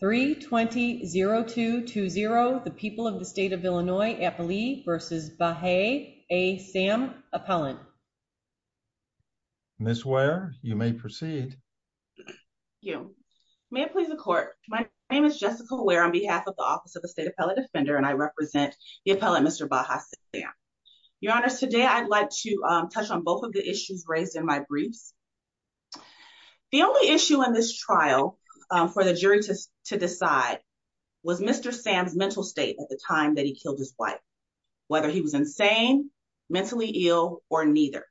3 20 0 2 2 0. The people of the state of Illinois at believe versus by Hey, a Sam appellant. Miss Ware, you may proceed. You may please the court. My name is Jessica Ware on behalf of the Office of the State Appellate Defender, and I represent the appellant, Mr Baja. Yeah, your honor's today. I'd like to touch on both of the issues raised in my briefs. The only issue in this trial for the jury to decide was Mr Sam's mental state at the time that he killed his wife, whether he was insane, mentally ill or neither.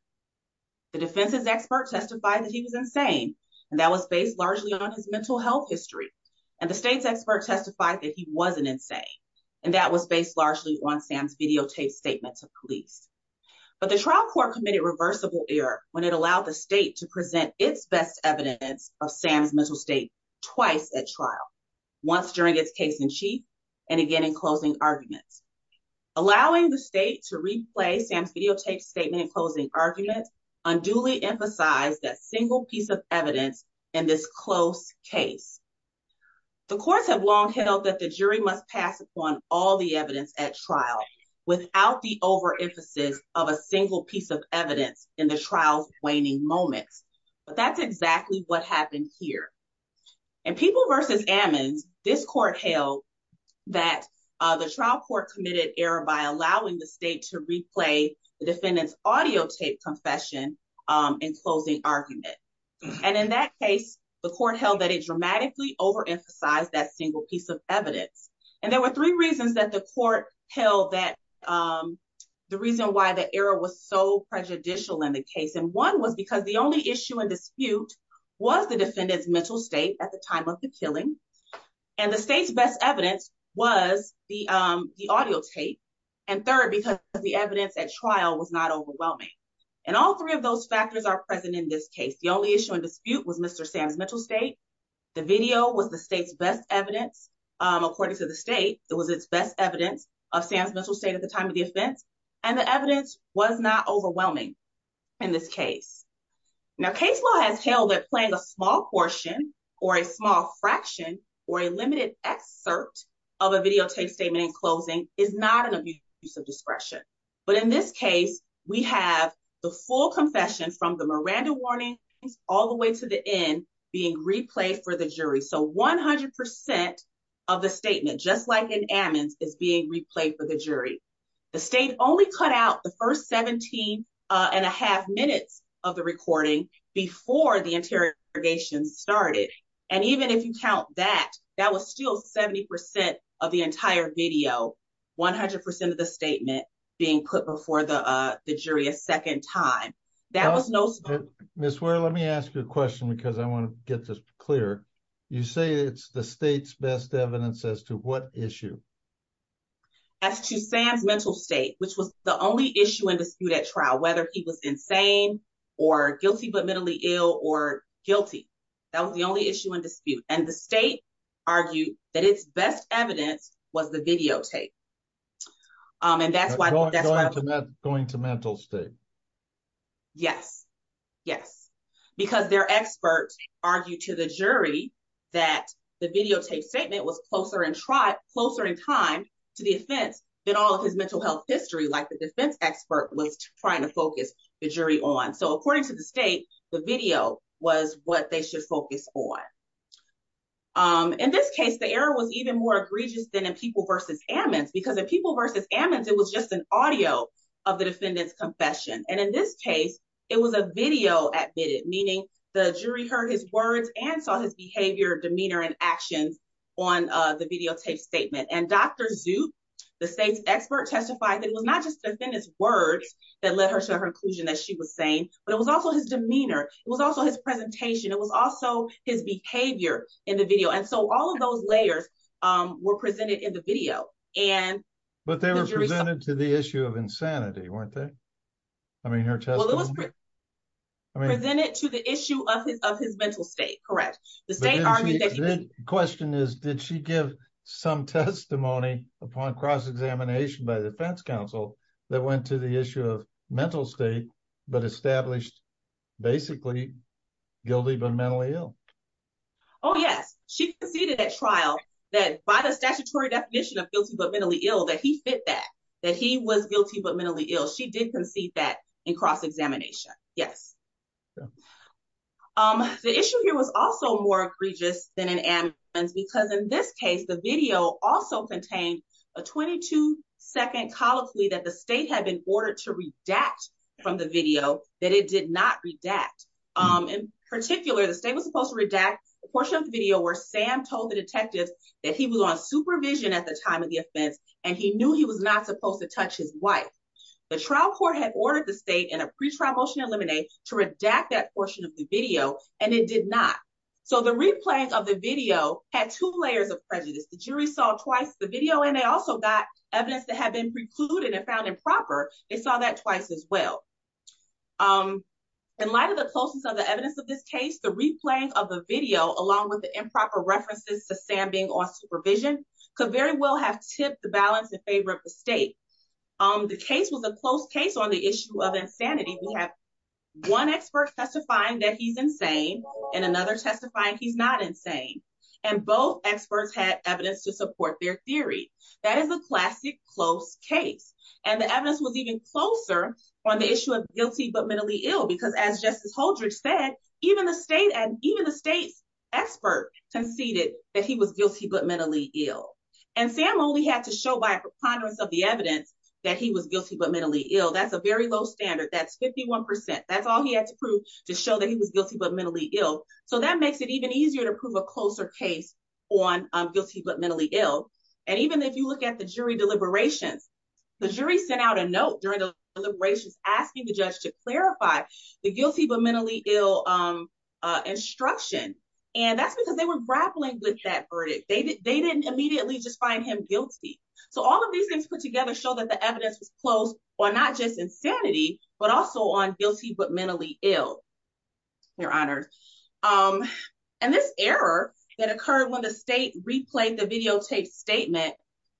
The defense's expert testified that he was insane, and that was based largely on his mental health history. And the state's expert testified that he wasn't insane, and that was based largely on Sam's videotaped statements of police. But the trial court committed reversible error when it allowed the state to present its best evidence of Sam's mental state twice at trial once during its case in chief and again in closing arguments, allowing the state to replay Sam's videotaped statement in closing arguments unduly emphasized that single piece of evidence in this close case. The courts have long held that the jury must pass upon all the evidence at trial's waning moments, but that's exactly what happened here. And people versus Ammons, this court held that the trial court committed error by allowing the state to replay the defendant's audio tape confession in closing argument. And in that case, the court held that it dramatically over emphasized that single piece of evidence. And there were three reasons that the court held that the reason why the error was so prejudicial in the case. And one was because the only issue in dispute was the defendant's mental state at the time of the killing. And the state's best evidence was the the audio tape. And third, because the evidence at trial was not overwhelming. And all three of those factors are present in this case. The only issue in dispute was Mr. Sam's mental state. The video was the state's best evidence. According to the state, it was its best evidence of Sam's mental state at the time of the offense. And the evidence was not overwhelming in this case. Now case law has held that playing a small portion or a small fraction or a limited excerpt of a video tape statement in closing is not an abuse of discretion. But in this case, we have the full confession from the Miranda warning all the way to the end being replayed for the jury. So 100% of the statement just like an Ammons is being replayed for the jury. The state only cut out the first 17 and a half minutes of the recording before the interrogation started. And even if you count that, that was still 70% of the entire video, 100% of the statement being put before the jury a second time. That was no Miss where let me ask you a question because I want to get this clear. You say it's the state's best evidence as to what issue as to Sam's mental state, which was the only issue in dispute at trial, whether he was insane or guilty but mentally ill or guilty. That was the only issue in dispute. And the state argued that its best evidence was the video tape. Um, and that's why that's going to mental state. Yes. Yes. Because their experts argued to the jury that the videotape statement was closer and tried closer in time to the offense than all of his mental health history. Like the defense expert was trying to focus the jury on. So according to the state, the video was what they should focus on. Um, in this case, the error was even more egregious than in people versus Ammons because the people versus Ammons, it was just an audio of the defendant's confession. And in this case, it was a video admitted, meaning the jury heard his words and saw his behavior, demeanor and actions on the videotape statement. And Dr Zoop, the state's expert testified that it was not just the defendants words that led her to her conclusion that she was saying, but it was also his demeanor. It was also his presentation. It was also his behavior in the video. And so all of those layers were presented in the video and but they were presented to the issue of insanity, weren't they? I mean, her testimony presented to the issue of his of his mental state. Correct. The state army question is, did she give some testimony upon cross examination by the defense counsel that went to the issue of mental state but established basically guilty but mentally ill? Oh, yes. She conceded that trial that by the statutory definition of guilty but mentally ill that he fit that that he was guilty but mentally ill. She did concede that in cross examination. Yes. Um, the issue here was also more egregious than an ambulance because in this case, the video also contained a 22 2nd colloquy that the state had been ordered to redact from the video that it did not redact. Um, in particular, the state was supposed to redact a portion of the video where Sam told the detectives that he was on supervision at the time of the offense, and he knew he was not supposed to touch his wife. The trial court had ordered the state in a pre trial motion eliminate to redact that portion of the video, and it did not. So the replay of the video had two layers of prejudice. The jury saw twice the video, and they also got evidence that had been precluded and found improper. They saw that twice as well. Um, in light of the closest of the evidence of this case, the replay of the video, along with the improper references to Sam being on supervision could very well have tipped the balance in favor of the state. Um, the case was a close case on the issue of insanity. We have one expert testifying that he's insane and another testifying he's not insane, and both experts had evidence to support their theory. That is a classic close case, and the evidence was even closer on the issue of guilty but mentally ill because, as Justice Holdridge said, even the state and even the state's expert conceded that he was guilty but mentally ill. And Sam only had to show by a preponderance of the evidence that he was guilty but mentally ill. That's a very low standard. That's 51%. That's all he had to prove to show that he was guilty but mentally ill. So that makes it even easier to prove a jury deliberations. The jury sent out a note during the deliberations, asking the judge to clarify the guilty but mentally ill, um, instruction, and that's because they were grappling with that verdict. They didn't immediately just find him guilty. So all of these things put together show that the evidence was closed on not just insanity, but also on guilty but mentally ill, Your Honor. Um, and this error that occurred when the state replayed the case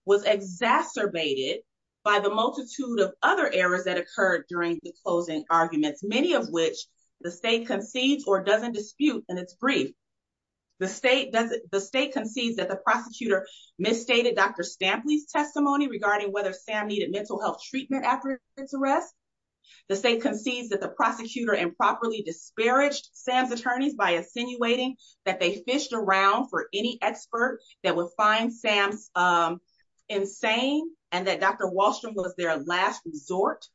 was exacerbated by the multitude of other errors that occurred during the closing arguments, many of which the state concedes or doesn't dispute, and it's brief. The state concedes that the prosecutor misstated Dr. Stampley's testimony regarding whether Sam needed mental health treatment after his arrest. The state concedes that the prosecutor improperly disparaged Sam's attorneys by insinuating that they fished around for any expert that would find Sam's, um, insane and that Dr. Wahlstrom was their last resort.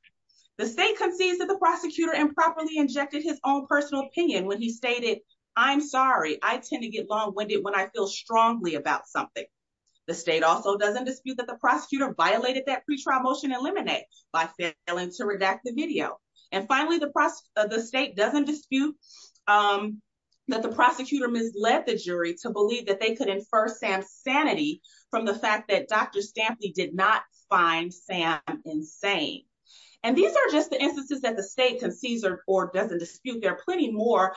The state concedes that the prosecutor improperly injected his own personal opinion when he stated, I'm sorry, I tend to get long winded when I feel strongly about something. The state also doesn't dispute that the prosecutor violated that pretrial motion in Lemonade by failing to redact the video. And finally, the state doesn't dispute, um, that the prosecutor misled the jury to believe that they could infer Sam's sanity from the fact that Dr. Stampley did not find Sam insane. And these are just the instances that the state concedes or doesn't dispute. There are plenty more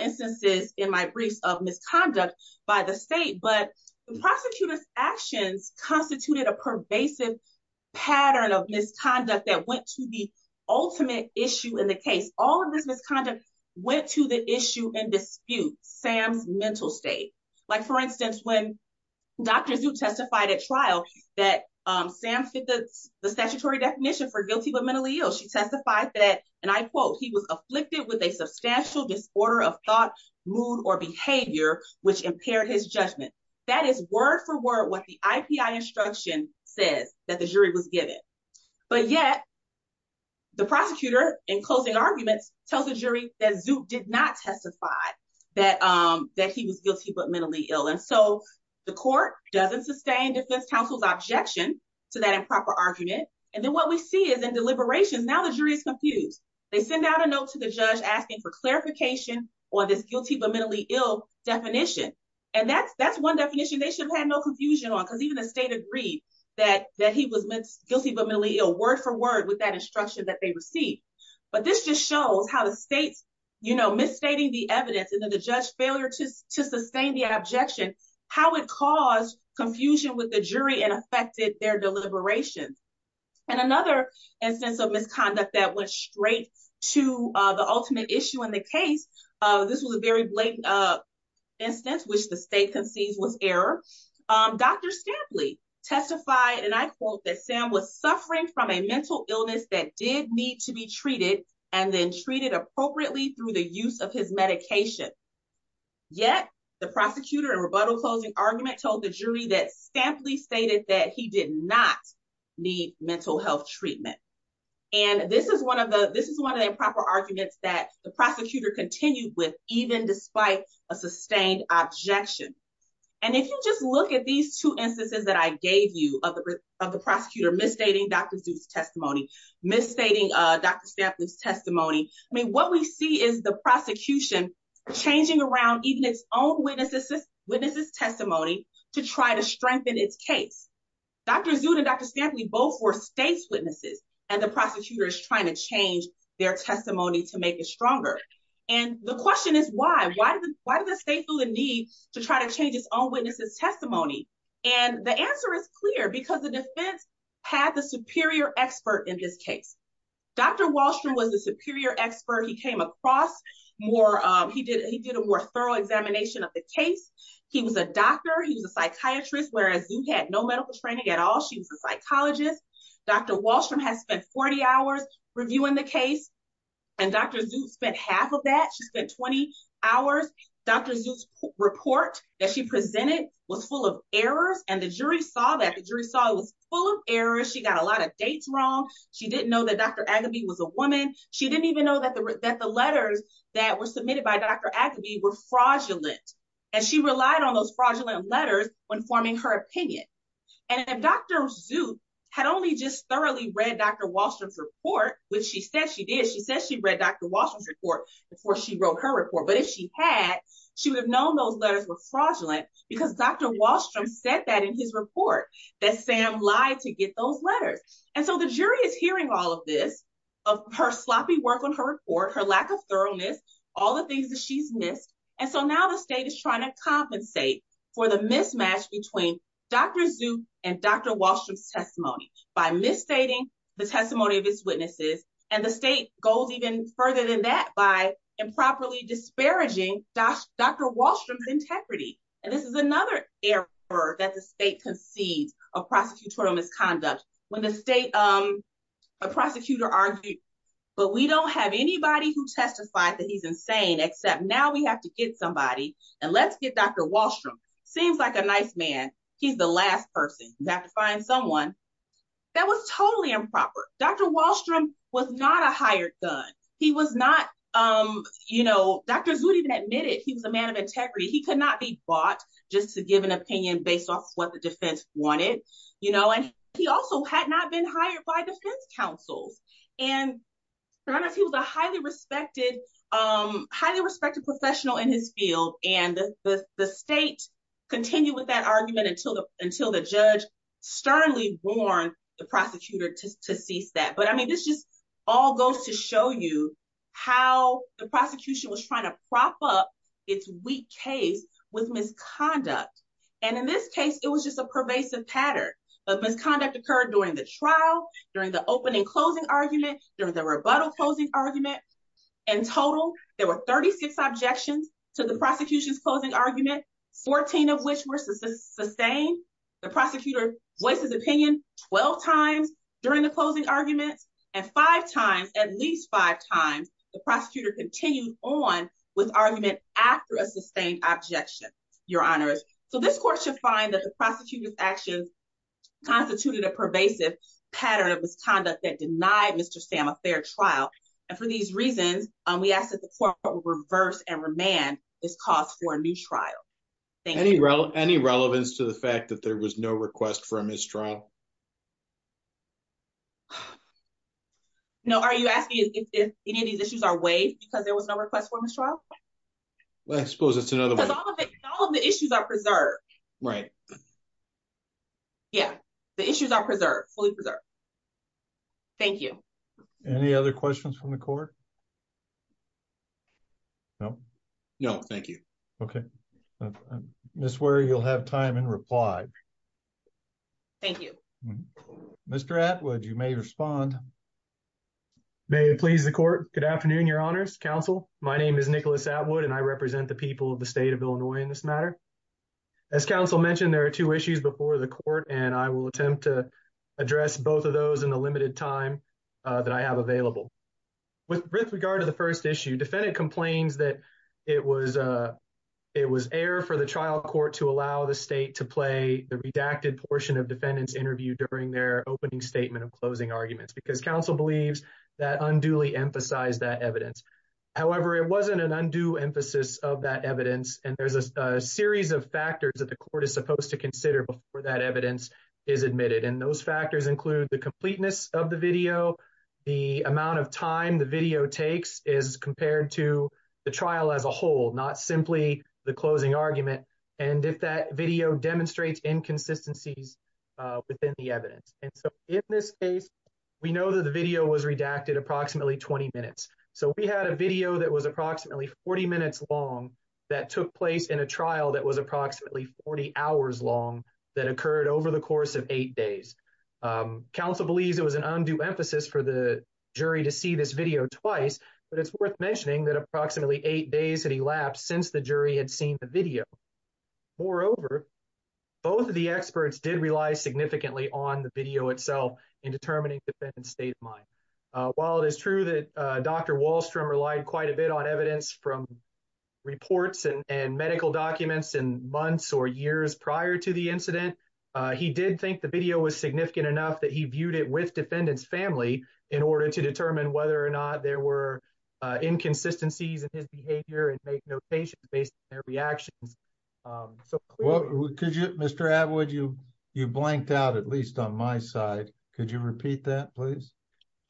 instances in my briefs of misconduct by the state, but the prosecutor's actions constituted a pervasive pattern of misconduct that went to the ultimate issue in the case. All of this misconduct went to the issue and dispute Sam's mental state. Like for instance, when Dr. Zook testified at trial that Sam fit the statutory definition for guilty but mentally ill, she testified that, and I quote, he was afflicted with a substantial disorder of thought, mood or behavior, which impaired his judgment. That is word for word what the IPI instruction says that the jury was given. But yet, the prosecutor in opposing arguments tells the jury that Zook did not testify that, um, that he was guilty but mentally ill. And so the court doesn't sustain defense counsel's objection to that improper argument. And then what we see is in deliberations, now the jury is confused. They send out a note to the judge asking for clarification on this guilty but mentally ill definition. And that's, that's one definition they should have had no confusion on because even the state agreed that, that he was guilty but mentally ill, word for word with that instruction that they received. But this just shows how the state's, you know, misstating the evidence and then the judge's failure to sustain the objection, how it caused confusion with the jury and affected their deliberations. And another instance of misconduct that went straight to the ultimate issue in the case, this was a very blatant instance which the state concedes was error. Dr. Stampley testified, and I quote, that Sam was suffering from a mental illness that did need to be treated and then treated appropriately through the use of his medication. Yet, the prosecutor in rebuttal closing argument told the jury that Stampley stated that he did not need mental health treatment. And this is one of the, this is one of the improper arguments that the prosecutor continued with even despite a sustained objection. And if you just look at these two instances that I gave you of the, of the prosecutor misstating Dr. Zut's testimony, misstating Dr. Stampley's testimony, I mean, what we see is the prosecution changing around even its own witness's testimony to try to strengthen its case. Dr. Zut and Dr. Stampley both were state's witnesses, and the prosecutor is trying to change their testimony to make it stronger. And the question is, why? Why does the state feel the need to try to change its own witness's testimony? And the answer is clear, because the prosecutor had the superior expert in this case. Dr. Wallstrom was the superior expert. He came across more, he did, he did a more thorough examination of the case. He was a doctor, he was a psychiatrist, whereas Zut had no medical training at all. She was a psychologist. Dr. Wallstrom has spent 40 hours reviewing the case. And Dr. Zut spent half of that, she spent 20 hours. Dr. Zut's report that she presented was full of errors, and the jury saw that, the jurors, she got a lot of dates wrong. She didn't know that Dr. Agaby was a woman. She didn't even know that the letters that were submitted by Dr. Agaby were fraudulent. And she relied on those fraudulent letters when forming her opinion. And if Dr. Zut had only just thoroughly read Dr. Wallstrom's report, which she said she did, she said she read Dr. Wallstrom's report before she wrote her report. But if she had, she would have known those letters were fraudulent, because Dr. Wallstrom said that in his report, that Sam lied to get those letters. And so the jury is hearing all of this, of her sloppy work on her report, her lack of thoroughness, all the things that she's missed. And so now the state is trying to compensate for the mismatch between Dr. Zut and Dr. Wallstrom's testimony by misstating the testimony of his witnesses. And the state goes even further than that by improperly disparaging Dr. Wallstrom's testimony. This is another error that the state concedes of prosecutorial misconduct. When the state, a prosecutor argued, but we don't have anybody who testified that he's insane, except now we have to get somebody and let's get Dr. Wallstrom. Seems like a nice man. He's the last person. We have to find someone. That was totally improper. Dr. Wallstrom was not a hired gun. He was not, you know, Dr. Zut even admitted he was a man of integrity. He could not be bought just to give an opinion based off what the defense wanted, you know, and he also had not been hired by defense counsels. And he was a highly respected, highly respected professional in his field. And the state continued with that argument until the until the judge sternly warned the prosecutor to cease that. But I mean, this all goes to show you how the prosecution was trying to prop up its weak case with misconduct. And in this case, it was just a pervasive pattern of misconduct occurred during the trial, during the opening closing argument, during the rebuttal closing argument. In total, there were 36 objections to the prosecution's closing argument, 14 of which were sustained. The prosecutor voices opinion 12 times during the closing arguments, and five times at least five times, the prosecutor continued on with argument after a sustained objection, Your Honors. So this court should find that the prosecutor's actions constituted a pervasive pattern of misconduct that denied Mr. Sam a fair trial. And for these reasons, we ask that the court will reverse and remand this cause for a new trial. Any relevance to the fact that there was no request for a mistrial? No. Are you asking if any of these issues are waived because there was no request for mistrial? Well, I suppose it's another way. Because all of the issues are preserved. Right. Yeah, the issues are preserved, fully preserved. Thank you. Any other questions from the court? No. No, thank you. Okay. Ms. Warey, you'll have time in reply. Thank you. Mr. Atwood, you may respond. May it please the court. Good afternoon, Your Honors. Counsel, my name is Nicholas Atwood, and I represent the people of the state of Illinois in this matter. As counsel mentioned, there are two issues before the court, and I will attempt to address both of those in the limited time that I have available. With regard to the first issue, defendant complains that it was error for the trial court to allow the state to play the redacted portion of defendant's interview during their opening statement of closing arguments because counsel believes that unduly emphasized that evidence. However, it wasn't an undue emphasis of that evidence, and there's a series of factors that the court is supposed to consider before that evidence is admitted. And those factors include the completeness of the video, the amount of time the video takes is compared to the trial as a whole, not simply the closing argument, and if that video demonstrates inconsistencies within the evidence. And so in this case, we know that the video was redacted approximately 20 minutes. So we had a video that was approximately 40 minutes long that took place in a trial that was approximately 40 hours long that occurred over the course of eight days. Counsel believes it was an undue emphasis for the jury to see this video twice, but it's worth mentioning that approximately eight days had elapsed since the jury had seen the video. Moreover, both of the experts did rely significantly on the video itself in determining defendant's state of mind. While it is true that Dr. Wahlstrom relied quite a bit on evidence from reports and medical documents in months or years prior to the incident, he did think the video was significant enough that he viewed it with defendant's family in order to determine whether or not there were inconsistencies in his behavior and make notations based on their reactions. Mr. Atwood, you blanked out, at least on my side. Could you repeat that, please?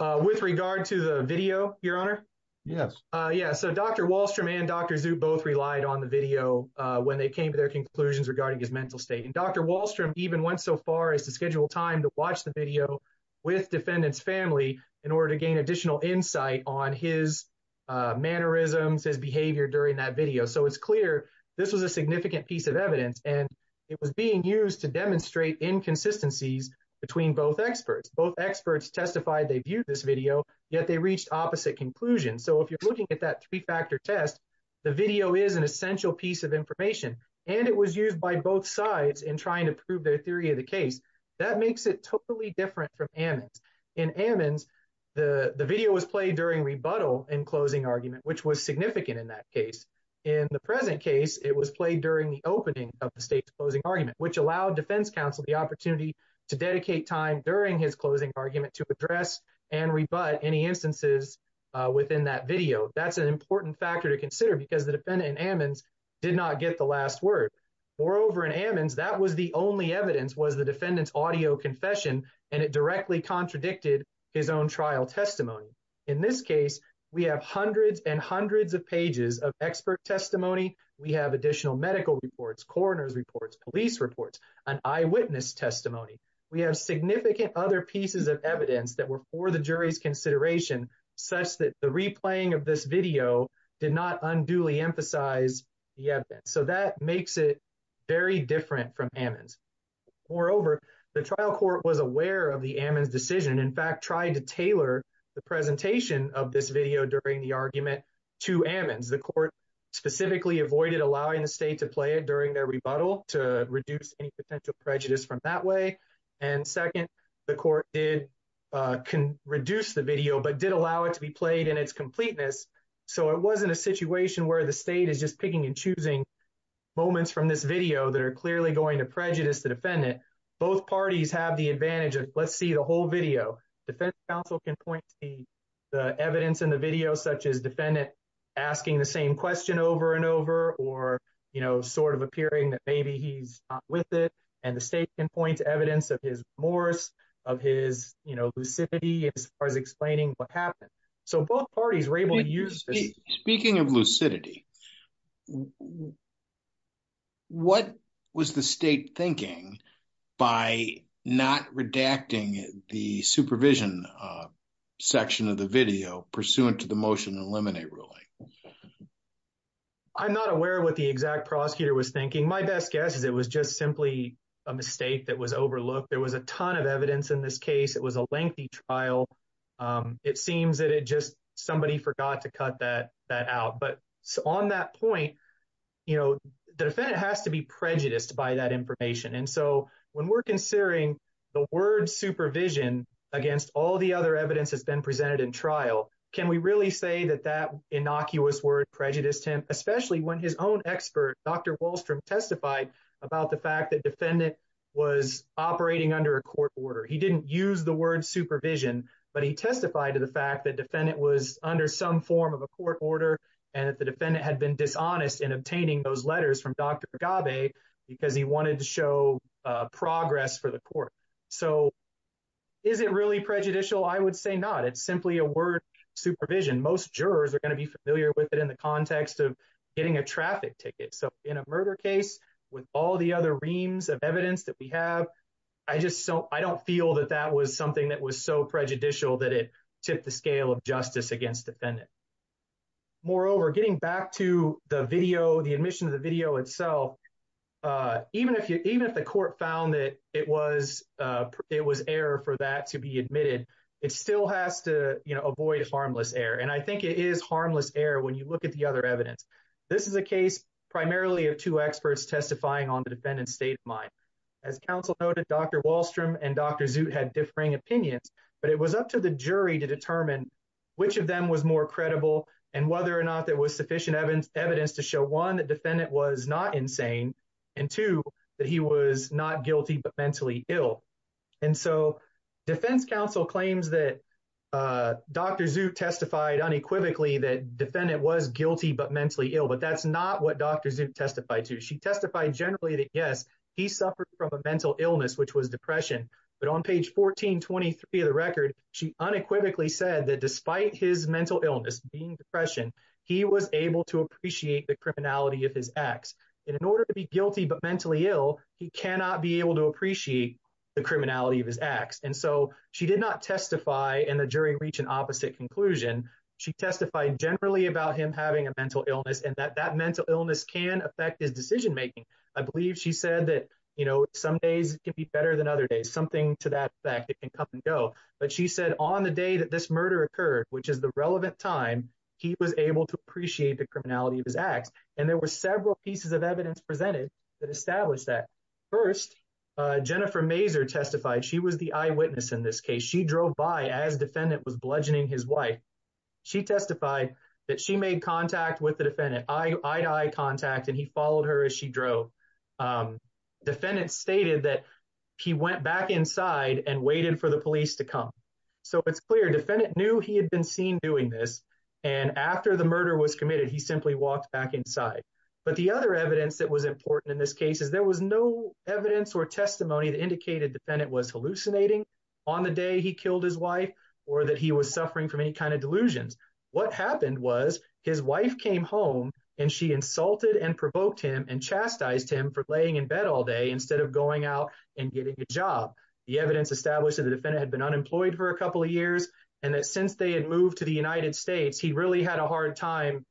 With regard to the video, Your Honor? Yes. Yeah, so Dr. Wahlstrom and Dr. Zhu both relied on the video when they came to their conclusions regarding his mental state. And Dr. Wahlstrom even went so far as to schedule time to watch the video with defendant's family in order to gain additional insight on his mannerisms, his behavior during that video. So it's clear this was a significant piece of evidence, and it was being used to demonstrate inconsistencies between both experts. Both experts testified they viewed this video, yet they reached opposite conclusions. So if you're looking at that three-factor test, the video is an essential piece of information, and it was used by both sides in trying to prove their theory of the case. That makes it totally different from Ammons. In Ammons, the video was played during rebuttal in closing argument, which was significant in that case. In the present case, it was played during the opening of the state's closing argument, which allowed defense counsel the opportunity to dedicate time during his closing argument to address and rebut any instances within that video. That's an important factor to consider because the defendant in Ammons did not get the last word. Moreover, in Ammons, that was the only evidence was the defendant's audio confession, and it directly contradicted his own trial testimony. In this case, we have hundreds and hundreds of pages of expert testimony. We have additional medical reports, coroner's reports, police reports, and eyewitness testimony. We have significant other pieces of evidence that were for the jury's consideration, such that the replaying of this video did not unduly emphasize the very different from Ammons. Moreover, the trial court was aware of the Ammons decision. In fact, tried to tailor the presentation of this video during the argument to Ammons. The court specifically avoided allowing the state to play it during their rebuttal to reduce any potential prejudice from that way. And second, the court did can reduce the video, but did allow it to be played in its completeness. So it wasn't a situation where the state is just picking and video that are clearly going to prejudice the defendant. Both parties have the advantage of, let's see the whole video. Defense counsel can point to the evidence in the video, such as defendant asking the same question over and over, or, you know, sort of appearing that maybe he's not with it. And the state can point to evidence of his remorse, of his, you know, lucidity, as far as explaining what happened. So both parties were able to use this. Speaking of lucidity, what was the state thinking by not redacting the supervision section of the video pursuant to the motion to eliminate ruling? I'm not aware of what the exact prosecutor was thinking. My best guess is it was just simply a mistake that was overlooked. There was a ton of evidence in this case. It was a lengthy trial. It seems that it just, somebody forgot to cut that out. But on that point, you know, the defendant has to be prejudiced by that information. And so when we're considering the word supervision against all the other evidence has been presented in trial, can we really say that that innocuous word prejudiced him, especially when his own expert, Dr. Wahlstrom testified about the fact that defendant was operating under a court order. He didn't use the word supervision, but he testified to the fact that defendant was under some form of a court order. And if the defendant had been dishonest in obtaining those letters from Dr. Gabay, because he wanted to show progress for the court. So is it really prejudicial? I would say not. It's simply a word supervision. Most jurors are going to be familiar with it in the context of getting a traffic ticket. So in a murder case, with all the other reams of evidence that we have, I don't feel that that was something that was so prejudicial that it tipped the scale of justice against defendant. Moreover, getting back to the video, the admission of the video itself, even if the court found that it was error for that to be admitted, it still has to, you know, avoid harmless error. And I think it is harmless error when you look at the other evidence. This is a case primarily of two experts testifying on the defendant's state of mind. As counsel noted, Dr. Wahlstrom and Dr. Zut had differing opinions, but it was up to the jury to determine which of them was more credible and whether or not there was sufficient evidence to show one, that defendant was not insane and two, that he was not guilty, but mentally ill. And so defense counsel claims that Dr. Zut testified unequivocally that defendant was guilty, but mentally ill, but that's not what Dr. Zut testified to. She testified generally that yes, he suffered from a mental illness, which was depression, but on page 1423 of the record, she unequivocally said that despite his mental illness being depression, he was able to appreciate the criminality of his acts. And in order to be guilty, but mentally ill, he cannot be able to appreciate the criminality of his acts. And so she did not testify and the generally about him having a mental illness and that that mental illness can affect his decision making. I believe she said that, you know, some days it can be better than other days, something to that effect, it can come and go. But she said on the day that this murder occurred, which is the relevant time, he was able to appreciate the criminality of his acts. And there were several pieces of evidence presented that established that. First, Jennifer Mazur testified, she was the eyewitness in this case. She drove by as defendant was his wife. She testified that she made contact with the defendant eye to eye contact and he followed her as she drove. Defendant stated that he went back inside and waited for the police to come. So it's clear defendant knew he had been seen doing this. And after the murder was committed, he simply walked back inside. But the other evidence that was important in this case is there was no evidence or testimony that indicated defendant was hallucinating on the day he killed his wife or that he was suffering from any kind of delusions. What happened was his wife came home and she insulted and provoked him and chastised him for laying in bed all day instead of going out and getting a job. The evidence established that the defendant had been unemployed for a couple of years and that since they had moved to the United States, he really had a hard time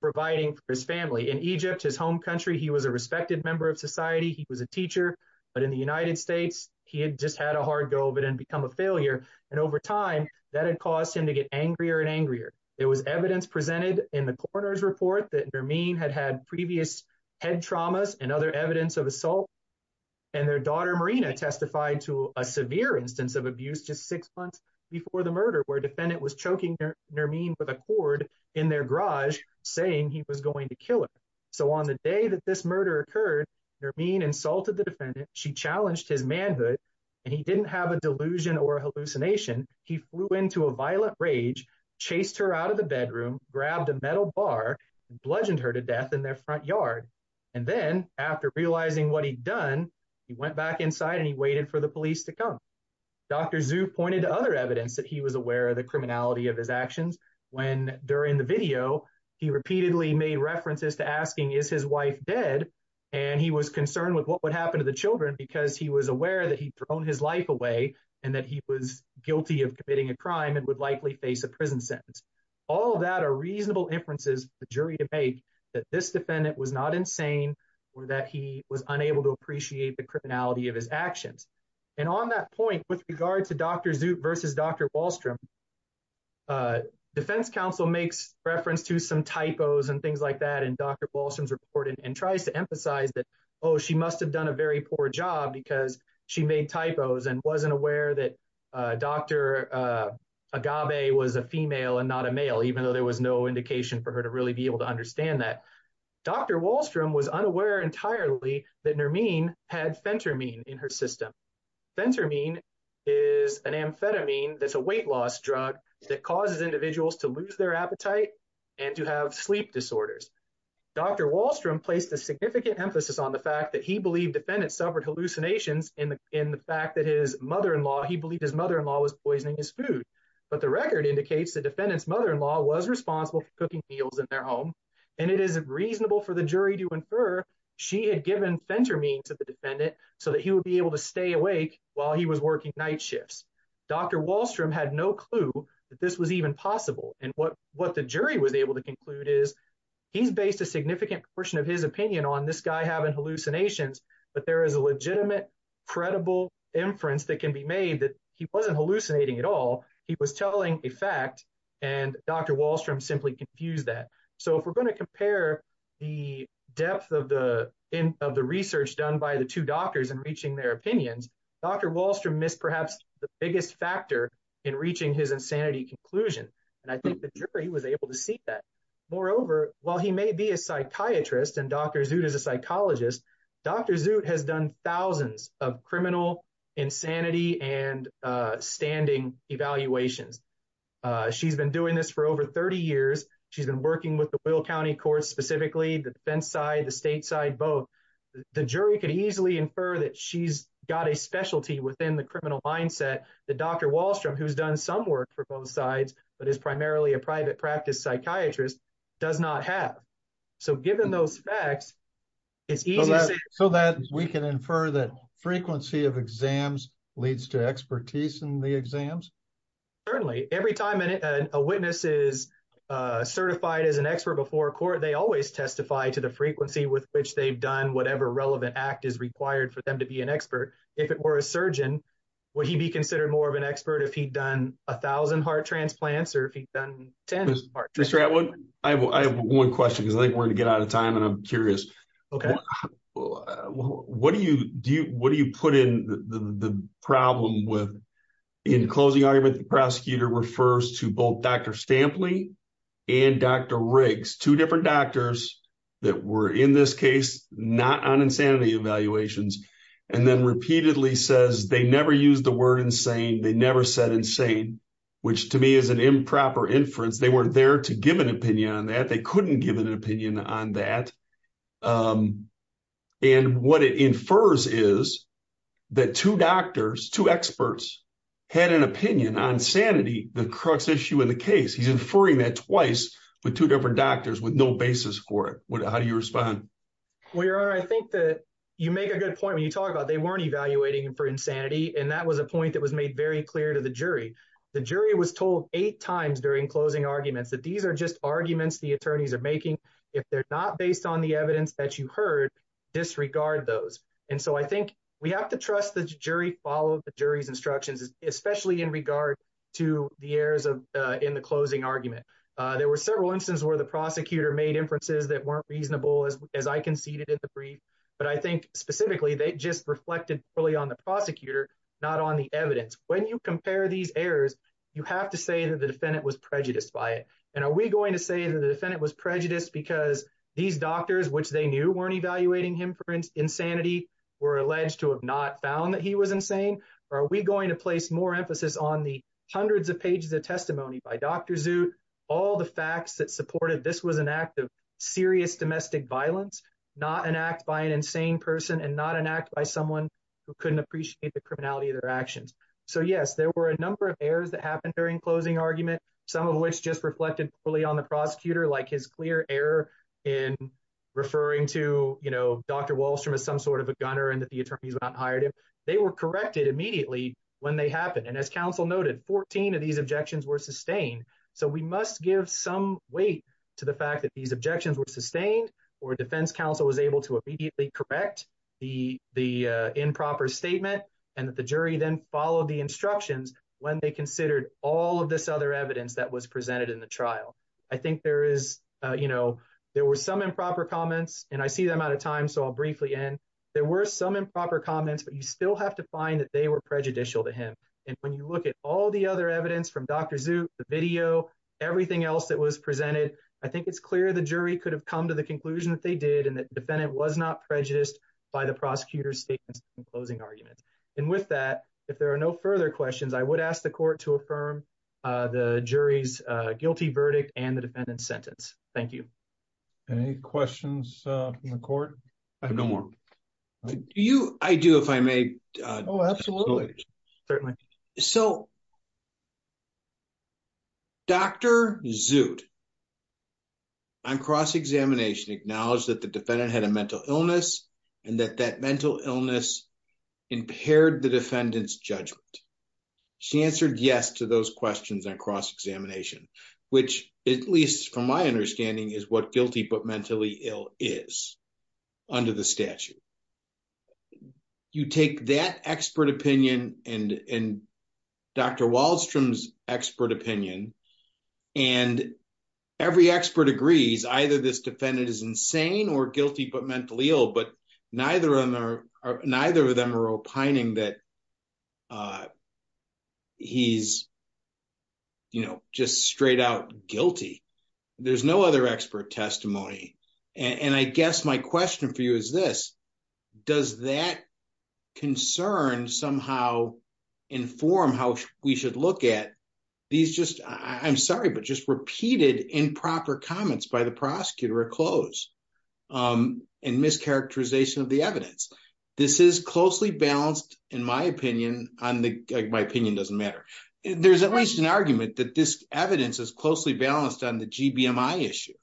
providing for his family. In Egypt, his home country, he was a respected member of society. He was a teacher. But in the United States, he had just had a hard go of it and become a failure. And over time, that had caused him to get angrier and angrier. There was evidence presented in the coroner's report that Nermeen had had previous head traumas and other evidence of assault. And their daughter Marina testified to a severe instance of abuse just six months before the murder where defendant was choking Nermeen with a cord in their garage, saying he was going to kill her. So on the day that this murder occurred, Nermeen insulted the he flew into a violent rage, chased her out of the bedroom, grabbed a metal bar, and bludgeoned her to death in their front yard. And then after realizing what he'd done, he went back inside and he waited for the police to come. Dr. Zhu pointed to other evidence that he was aware of the criminality of his actions. When during the video, he repeatedly made references to asking, is his wife dead? And he was concerned with what would happen to the children because he was aware that he'd thrown his life away and that he was guilty of committing a crime and would likely face a prison sentence. All of that are reasonable inferences for the jury to make that this defendant was not insane or that he was unable to appreciate the criminality of his actions. And on that point, with regard to Dr. Zhu versus Dr. Wallstrom, defense counsel makes reference to some typos and things like that in Dr. Wallstrom's report and tries to emphasize that, oh, she must've done a very poor job because she made typos and wasn't aware that Dr. Agave was a female and not a male, even though there was no indication for her to really be able to understand that. Dr. Wallstrom was unaware entirely that Nermine had Phentermine in her system. Phentermine is an amphetamine that's a weight loss drug that causes individuals to lose their appetite and to have sleep disorders. Dr. Wallstrom placed a significant emphasis on the fact that he believed defendants suffered hallucinations in the fact that his mother-in-law, he believed his mother-in-law was poisoning his food. But the record indicates the defendant's mother-in-law was responsible for cooking meals in their home. And it is reasonable for the jury to infer she had given Phentermine to the defendant so that he would be able to stay awake while he was working night shifts. Dr. Wallstrom had no clue that this was even possible. And what the jury was able to conclude is he's based a significant portion of his opinion on this guy having hallucinations, but there is a legitimate, credible inference that can be made that he wasn't hallucinating at all. He was telling a fact and Dr. Wallstrom simply confused that. So if we're going to compare the depth of the research done by the two doctors and reaching their opinions, Dr. Wallstrom missed perhaps the biggest factor in reaching his insanity conclusion. And I think the jury was able to see that. Moreover, while he may be a psychiatrist and Dr. Zut is a psychologist, Dr. Zut has done thousands of criminal insanity and standing evaluations. She's been doing this for over 30 years. She's been working with the Will County Court specifically, the defense side, the state side, both. The jury could easily infer that she's got a specialty within the criminal mindset that Dr. Wallstrom, who's done some work for both sides, but is primarily a private practice psychiatrist, does not have. So given those facts, it's easy to say- So that we can infer that frequency of exams leads to expertise in the exams? Certainly. Every time a witness is certified as an expert before court, they always testify to the frequency with which they've done whatever relevant act is required for them to be an expert. If it were a surgeon, would he be considered more of an expert if he'd done a thousand heart transplants or if he'd done 10 heart transplants? Mr. Atwood, I have one question because I think we're going to get out of time and I'm curious. Okay. What do you put in the problem with, in closing argument, the prosecutor refers to both Dr. that were in this case, not on insanity evaluations, and then repeatedly says they never used the word insane. They never said insane, which to me is an improper inference. They were there to give an opinion on that. They couldn't give an opinion on that. And what it infers is that two doctors, two experts, had an opinion on sanity, the crux issue in the case. He's How do you respond? Well, your honor, I think that you make a good point when you talk about they weren't evaluating for insanity. And that was a point that was made very clear to the jury. The jury was told eight times during closing arguments that these are just arguments the attorneys are making. If they're not based on the evidence that you heard disregard those. And so I think we have to trust the jury followed the jury's instructions, especially in regard to the errors in the closing argument. There were several instances where the prosecutor made inferences that weren't reasonable as I conceded in the brief. But I think specifically they just reflected fully on the prosecutor, not on the evidence. When you compare these errors, you have to say that the defendant was prejudiced by it. And are we going to say that the defendant was prejudiced because these doctors, which they knew weren't evaluating him for insanity, were alleged to have not found that he was insane? Or are we going to place more emphasis on the pages of testimony by Dr. Zut, all the facts that supported this was an act of serious domestic violence, not an act by an insane person and not an act by someone who couldn't appreciate the criminality of their actions. So yes, there were a number of errors that happened during closing argument, some of which just reflected fully on the prosecutor, like his clear error in referring to Dr. Wallstrom as some sort of a gunner and that the attorneys were not hired him. They were corrected immediately when they happened. And as counsel noted, 14 of these objections were sustained. So we must give some weight to the fact that these objections were sustained or defense counsel was able to immediately correct the improper statement and that the jury then followed the instructions when they considered all of this other evidence that was presented in the trial. I think there were some improper comments and I see them out of time, so I'll briefly end. There were some improper comments, but you still have to find that they were prejudicial to him. And when you look at all the other evidence from Dr. Zut, the video, everything else that was presented, I think it's clear the jury could have come to the conclusion that they did and that defendant was not prejudiced by the prosecutor's statements in closing arguments. And with that, if there are no further questions, I would ask the court to affirm the jury's guilty verdict and the defendant's sentence. Thank you. Any questions from the court? I have no more. Do you? I do, if I may. Oh, absolutely. Certainly. So, Dr. Zut on cross-examination acknowledged that the defendant had a mental illness and that that mental illness impaired the defendant's judgment. She answered yes to those questions on cross-examination, which at least from my understanding is what guilty but under the statute. You take that expert opinion and Dr. Waldstrom's expert opinion, and every expert agrees either this defendant is insane or guilty but mentally ill, but neither of them are opining that he's just straight out guilty. There's no other expert testimony. And I guess my question for you is this, does that concern somehow inform how we should look at these just, I'm sorry, but just repeated improper comments by the prosecutor at close and mischaracterization of the evidence? This is closely balanced, in my opinion, on the, my opinion doesn't matter. There's at least an argument that this evidence is closely balanced on the GBMI issue.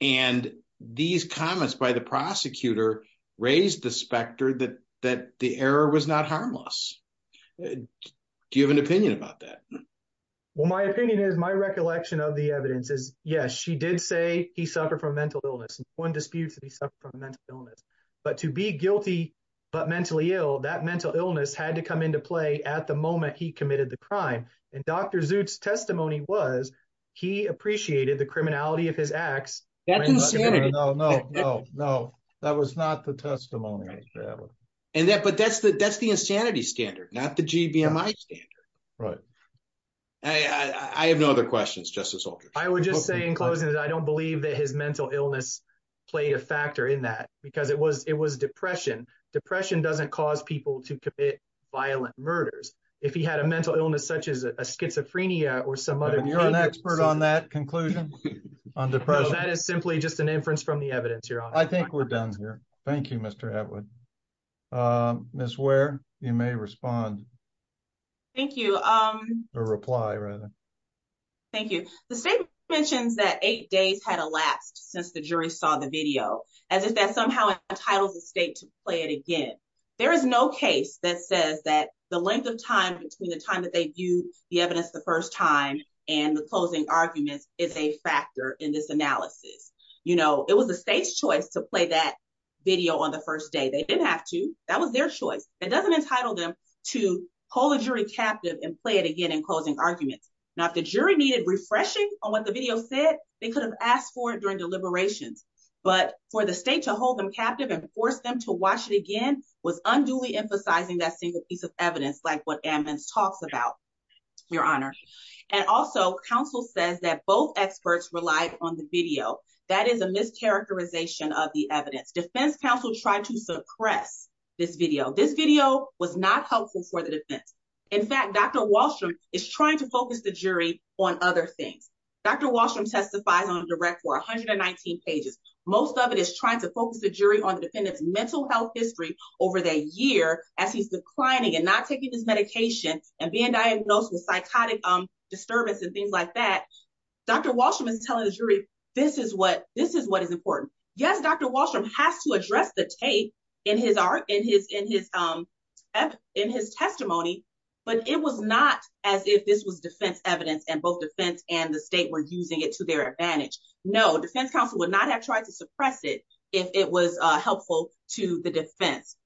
And these comments by the prosecutor raised the specter that, that the error was not harmless. Do you have an opinion about that? Well, my opinion is my recollection of the evidence is yes, she did say he suffered from mental illness and one disputes that he suffered from mental illness, but to be guilty but mentally ill, that mental illness had to come into play at the moment he committed the crime. And Dr. Zut's testimony was he appreciated the criminality of his acts. No, no, no, no. That was not the testimony. And that, but that's the, that's the insanity standard, not the GBMI standard. Right. I have no other questions. Justice. I would just say in closing that I don't believe that his mental illness played a factor in that because it was, it was depression. Depression doesn't cause people to commit violent murders. If he had a mental illness, such as a schizophrenia or some other, And you're an expert on that conclusion on depression. That is simply just an inference from the evidence. You're on. I think we're done here. Thank you, Mr. Atwood. Ms. Ware, you may respond. Thank you. Or reply rather. Thank you. The state mentions that eight days had elapsed since the jury saw the video as if that entitles the state to play it again. There is no case that says that the length of time between the time that they view the evidence the first time and the closing arguments is a factor in this analysis. You know, it was the state's choice to play that video on the first day. They didn't have to, that was their choice. It doesn't entitle them to hold a jury captive and play it again in closing arguments. Now, if the jury needed refreshing on what the video said, they could have asked for it during deliberations. But for the state to hold them captive and force them to watch it again was unduly emphasizing that single piece of evidence, like what Ammons talks about, your honor. And also, counsel says that both experts relied on the video. That is a mischaracterization of the evidence. Defense counsel tried to suppress this video. This video was not helpful for the defense. In fact, Dr. Wallstrom is trying to focus the jury on other things. Dr. Wallstrom testifies on a direct for 119 pages. Most of it is trying to focus the jury on the defendant's mental health history over the year as he's declining and not taking his medication and being diagnosed with psychotic disturbance and things like that. Dr. Wallstrom is telling the jury, this is what is important. Yes, Dr. Wallstrom has to address the tape in his art, in his testimony. But it was not as if this was defense evidence and both defense and the state were using it to their advantage. No, defense counsel would not have tried to suppress it if it was helpful to the defense.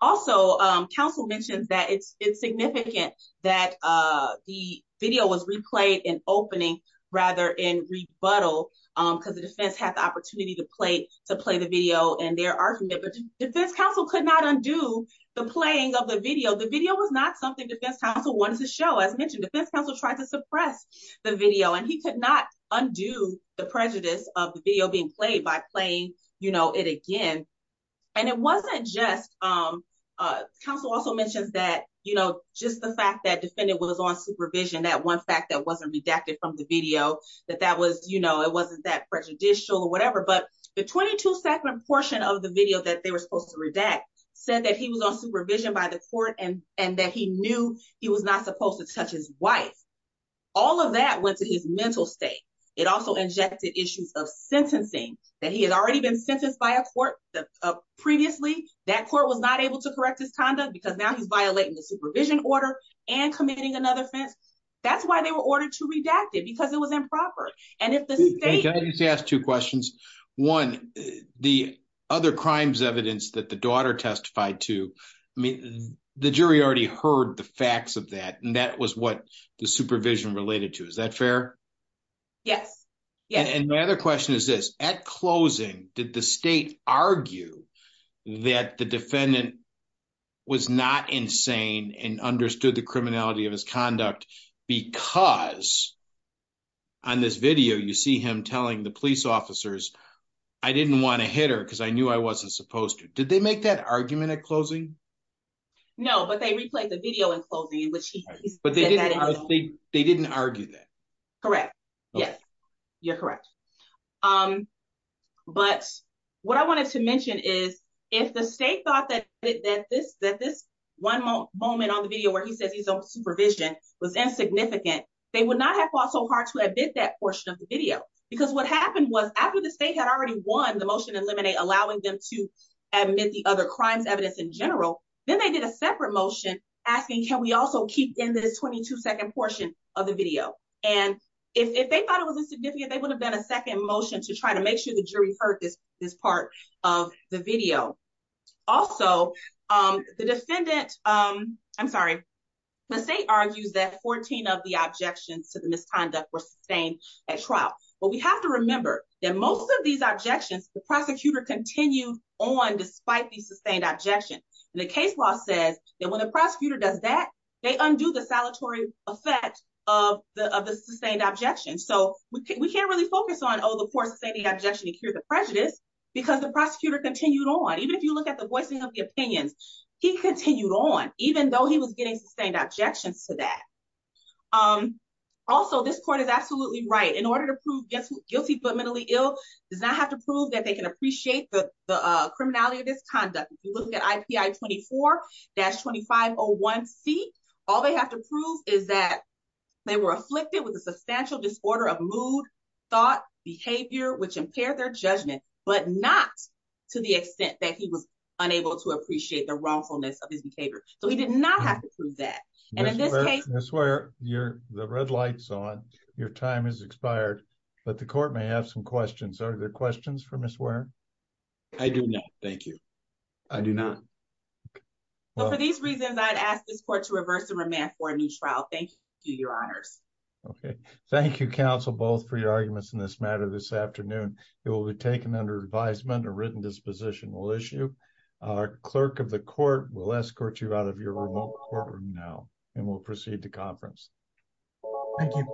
Also, counsel mentions that it's significant that the video was replayed in opening rather in rebuttal because the defense had the opportunity to play the video and their argument. But defense counsel could not undo the playing of the video. The video was not something defense counsel wanted to show. As mentioned, defense counsel tried to suppress the video and he could not undo the prejudice of the video being played by playing it again. Counsel also mentions that just the fact that defendant was on supervision, that one fact that wasn't redacted from the video, that it wasn't that prejudicial or whatever. But the 22 second portion of the video that they were supposed to redact said that he was on supervision by the court and that he knew he was not supposed to touch his wife. All of that went to his mental state. It also injected issues of sentencing, that he had already been sentenced by a court previously. That court was not able to correct his conduct because now he's violating the supervision order and committing another offense. That's why they were ordered to redact it because it was improper. Can I just ask two questions? One, the other crimes evidence that the daughter testified to, the jury already heard the facts of that and that was what the supervision related to. Is that fair? Yes. My other question is this. At closing, did the state argue that the defendant was not insane and understood the criminality of his actions? On this video, you see him telling the police officers, I didn't want to hit her because I knew I wasn't supposed to. Did they make that argument at closing? No, but they replayed the video in closing. They didn't argue that? Correct. Yes, you're correct. But what I wanted to mention is if the state thought that this one moment on the video where he says he's on supervision was insignificant, they would not have fought so hard to admit that portion of the video. Because what happened was after the state had already won the motion to eliminate, allowing them to admit the other crimes evidence in general, then they did a separate motion asking, can we also keep in this 22 second portion of the video? And if they thought it was insignificant, they would have done a second motion to try to make sure the jury heard this part of the video. Also, the defendant, I'm sorry, the state argues that 14 of the objections to the misconduct were sustained at trial. But we have to remember that most of these objections, the prosecutor continued on despite the sustained objection. And the case law says that when a prosecutor does that, they undo the salutary effect of the sustained objection. So we can't focus on the poor sustaining objection to cure the prejudice because the prosecutor continued on. Even if you look at the voicing of the opinions, he continued on even though he was getting sustained objections to that. Also, this court is absolutely right. In order to prove guilty but mentally ill does not have to prove that they can appreciate the criminality of this conduct. If you look at IPI 24-2501C, all they have to prove is that they were afflicted with a substantial disorder of mood, thought, behavior, which impaired their judgment, but not to the extent that he was unable to appreciate the wrongfulness of his behavior. So he did not have to prove that. And in this case, Ms. Ware, the red light's on. Your time has expired. But the court may have some questions. Are there questions for Ms. Ware? I do not, thank you. I do not. For these reasons, I'd ask this court to reverse the remand for a new trial. Thank you, Your Honors. Okay. Thank you, counsel, both for your arguments in this matter this afternoon. It will be taken under advisement, a written disposition will issue. Our clerk of the court will escort you out of your remote courtroom now and we'll proceed to conference. Thank you.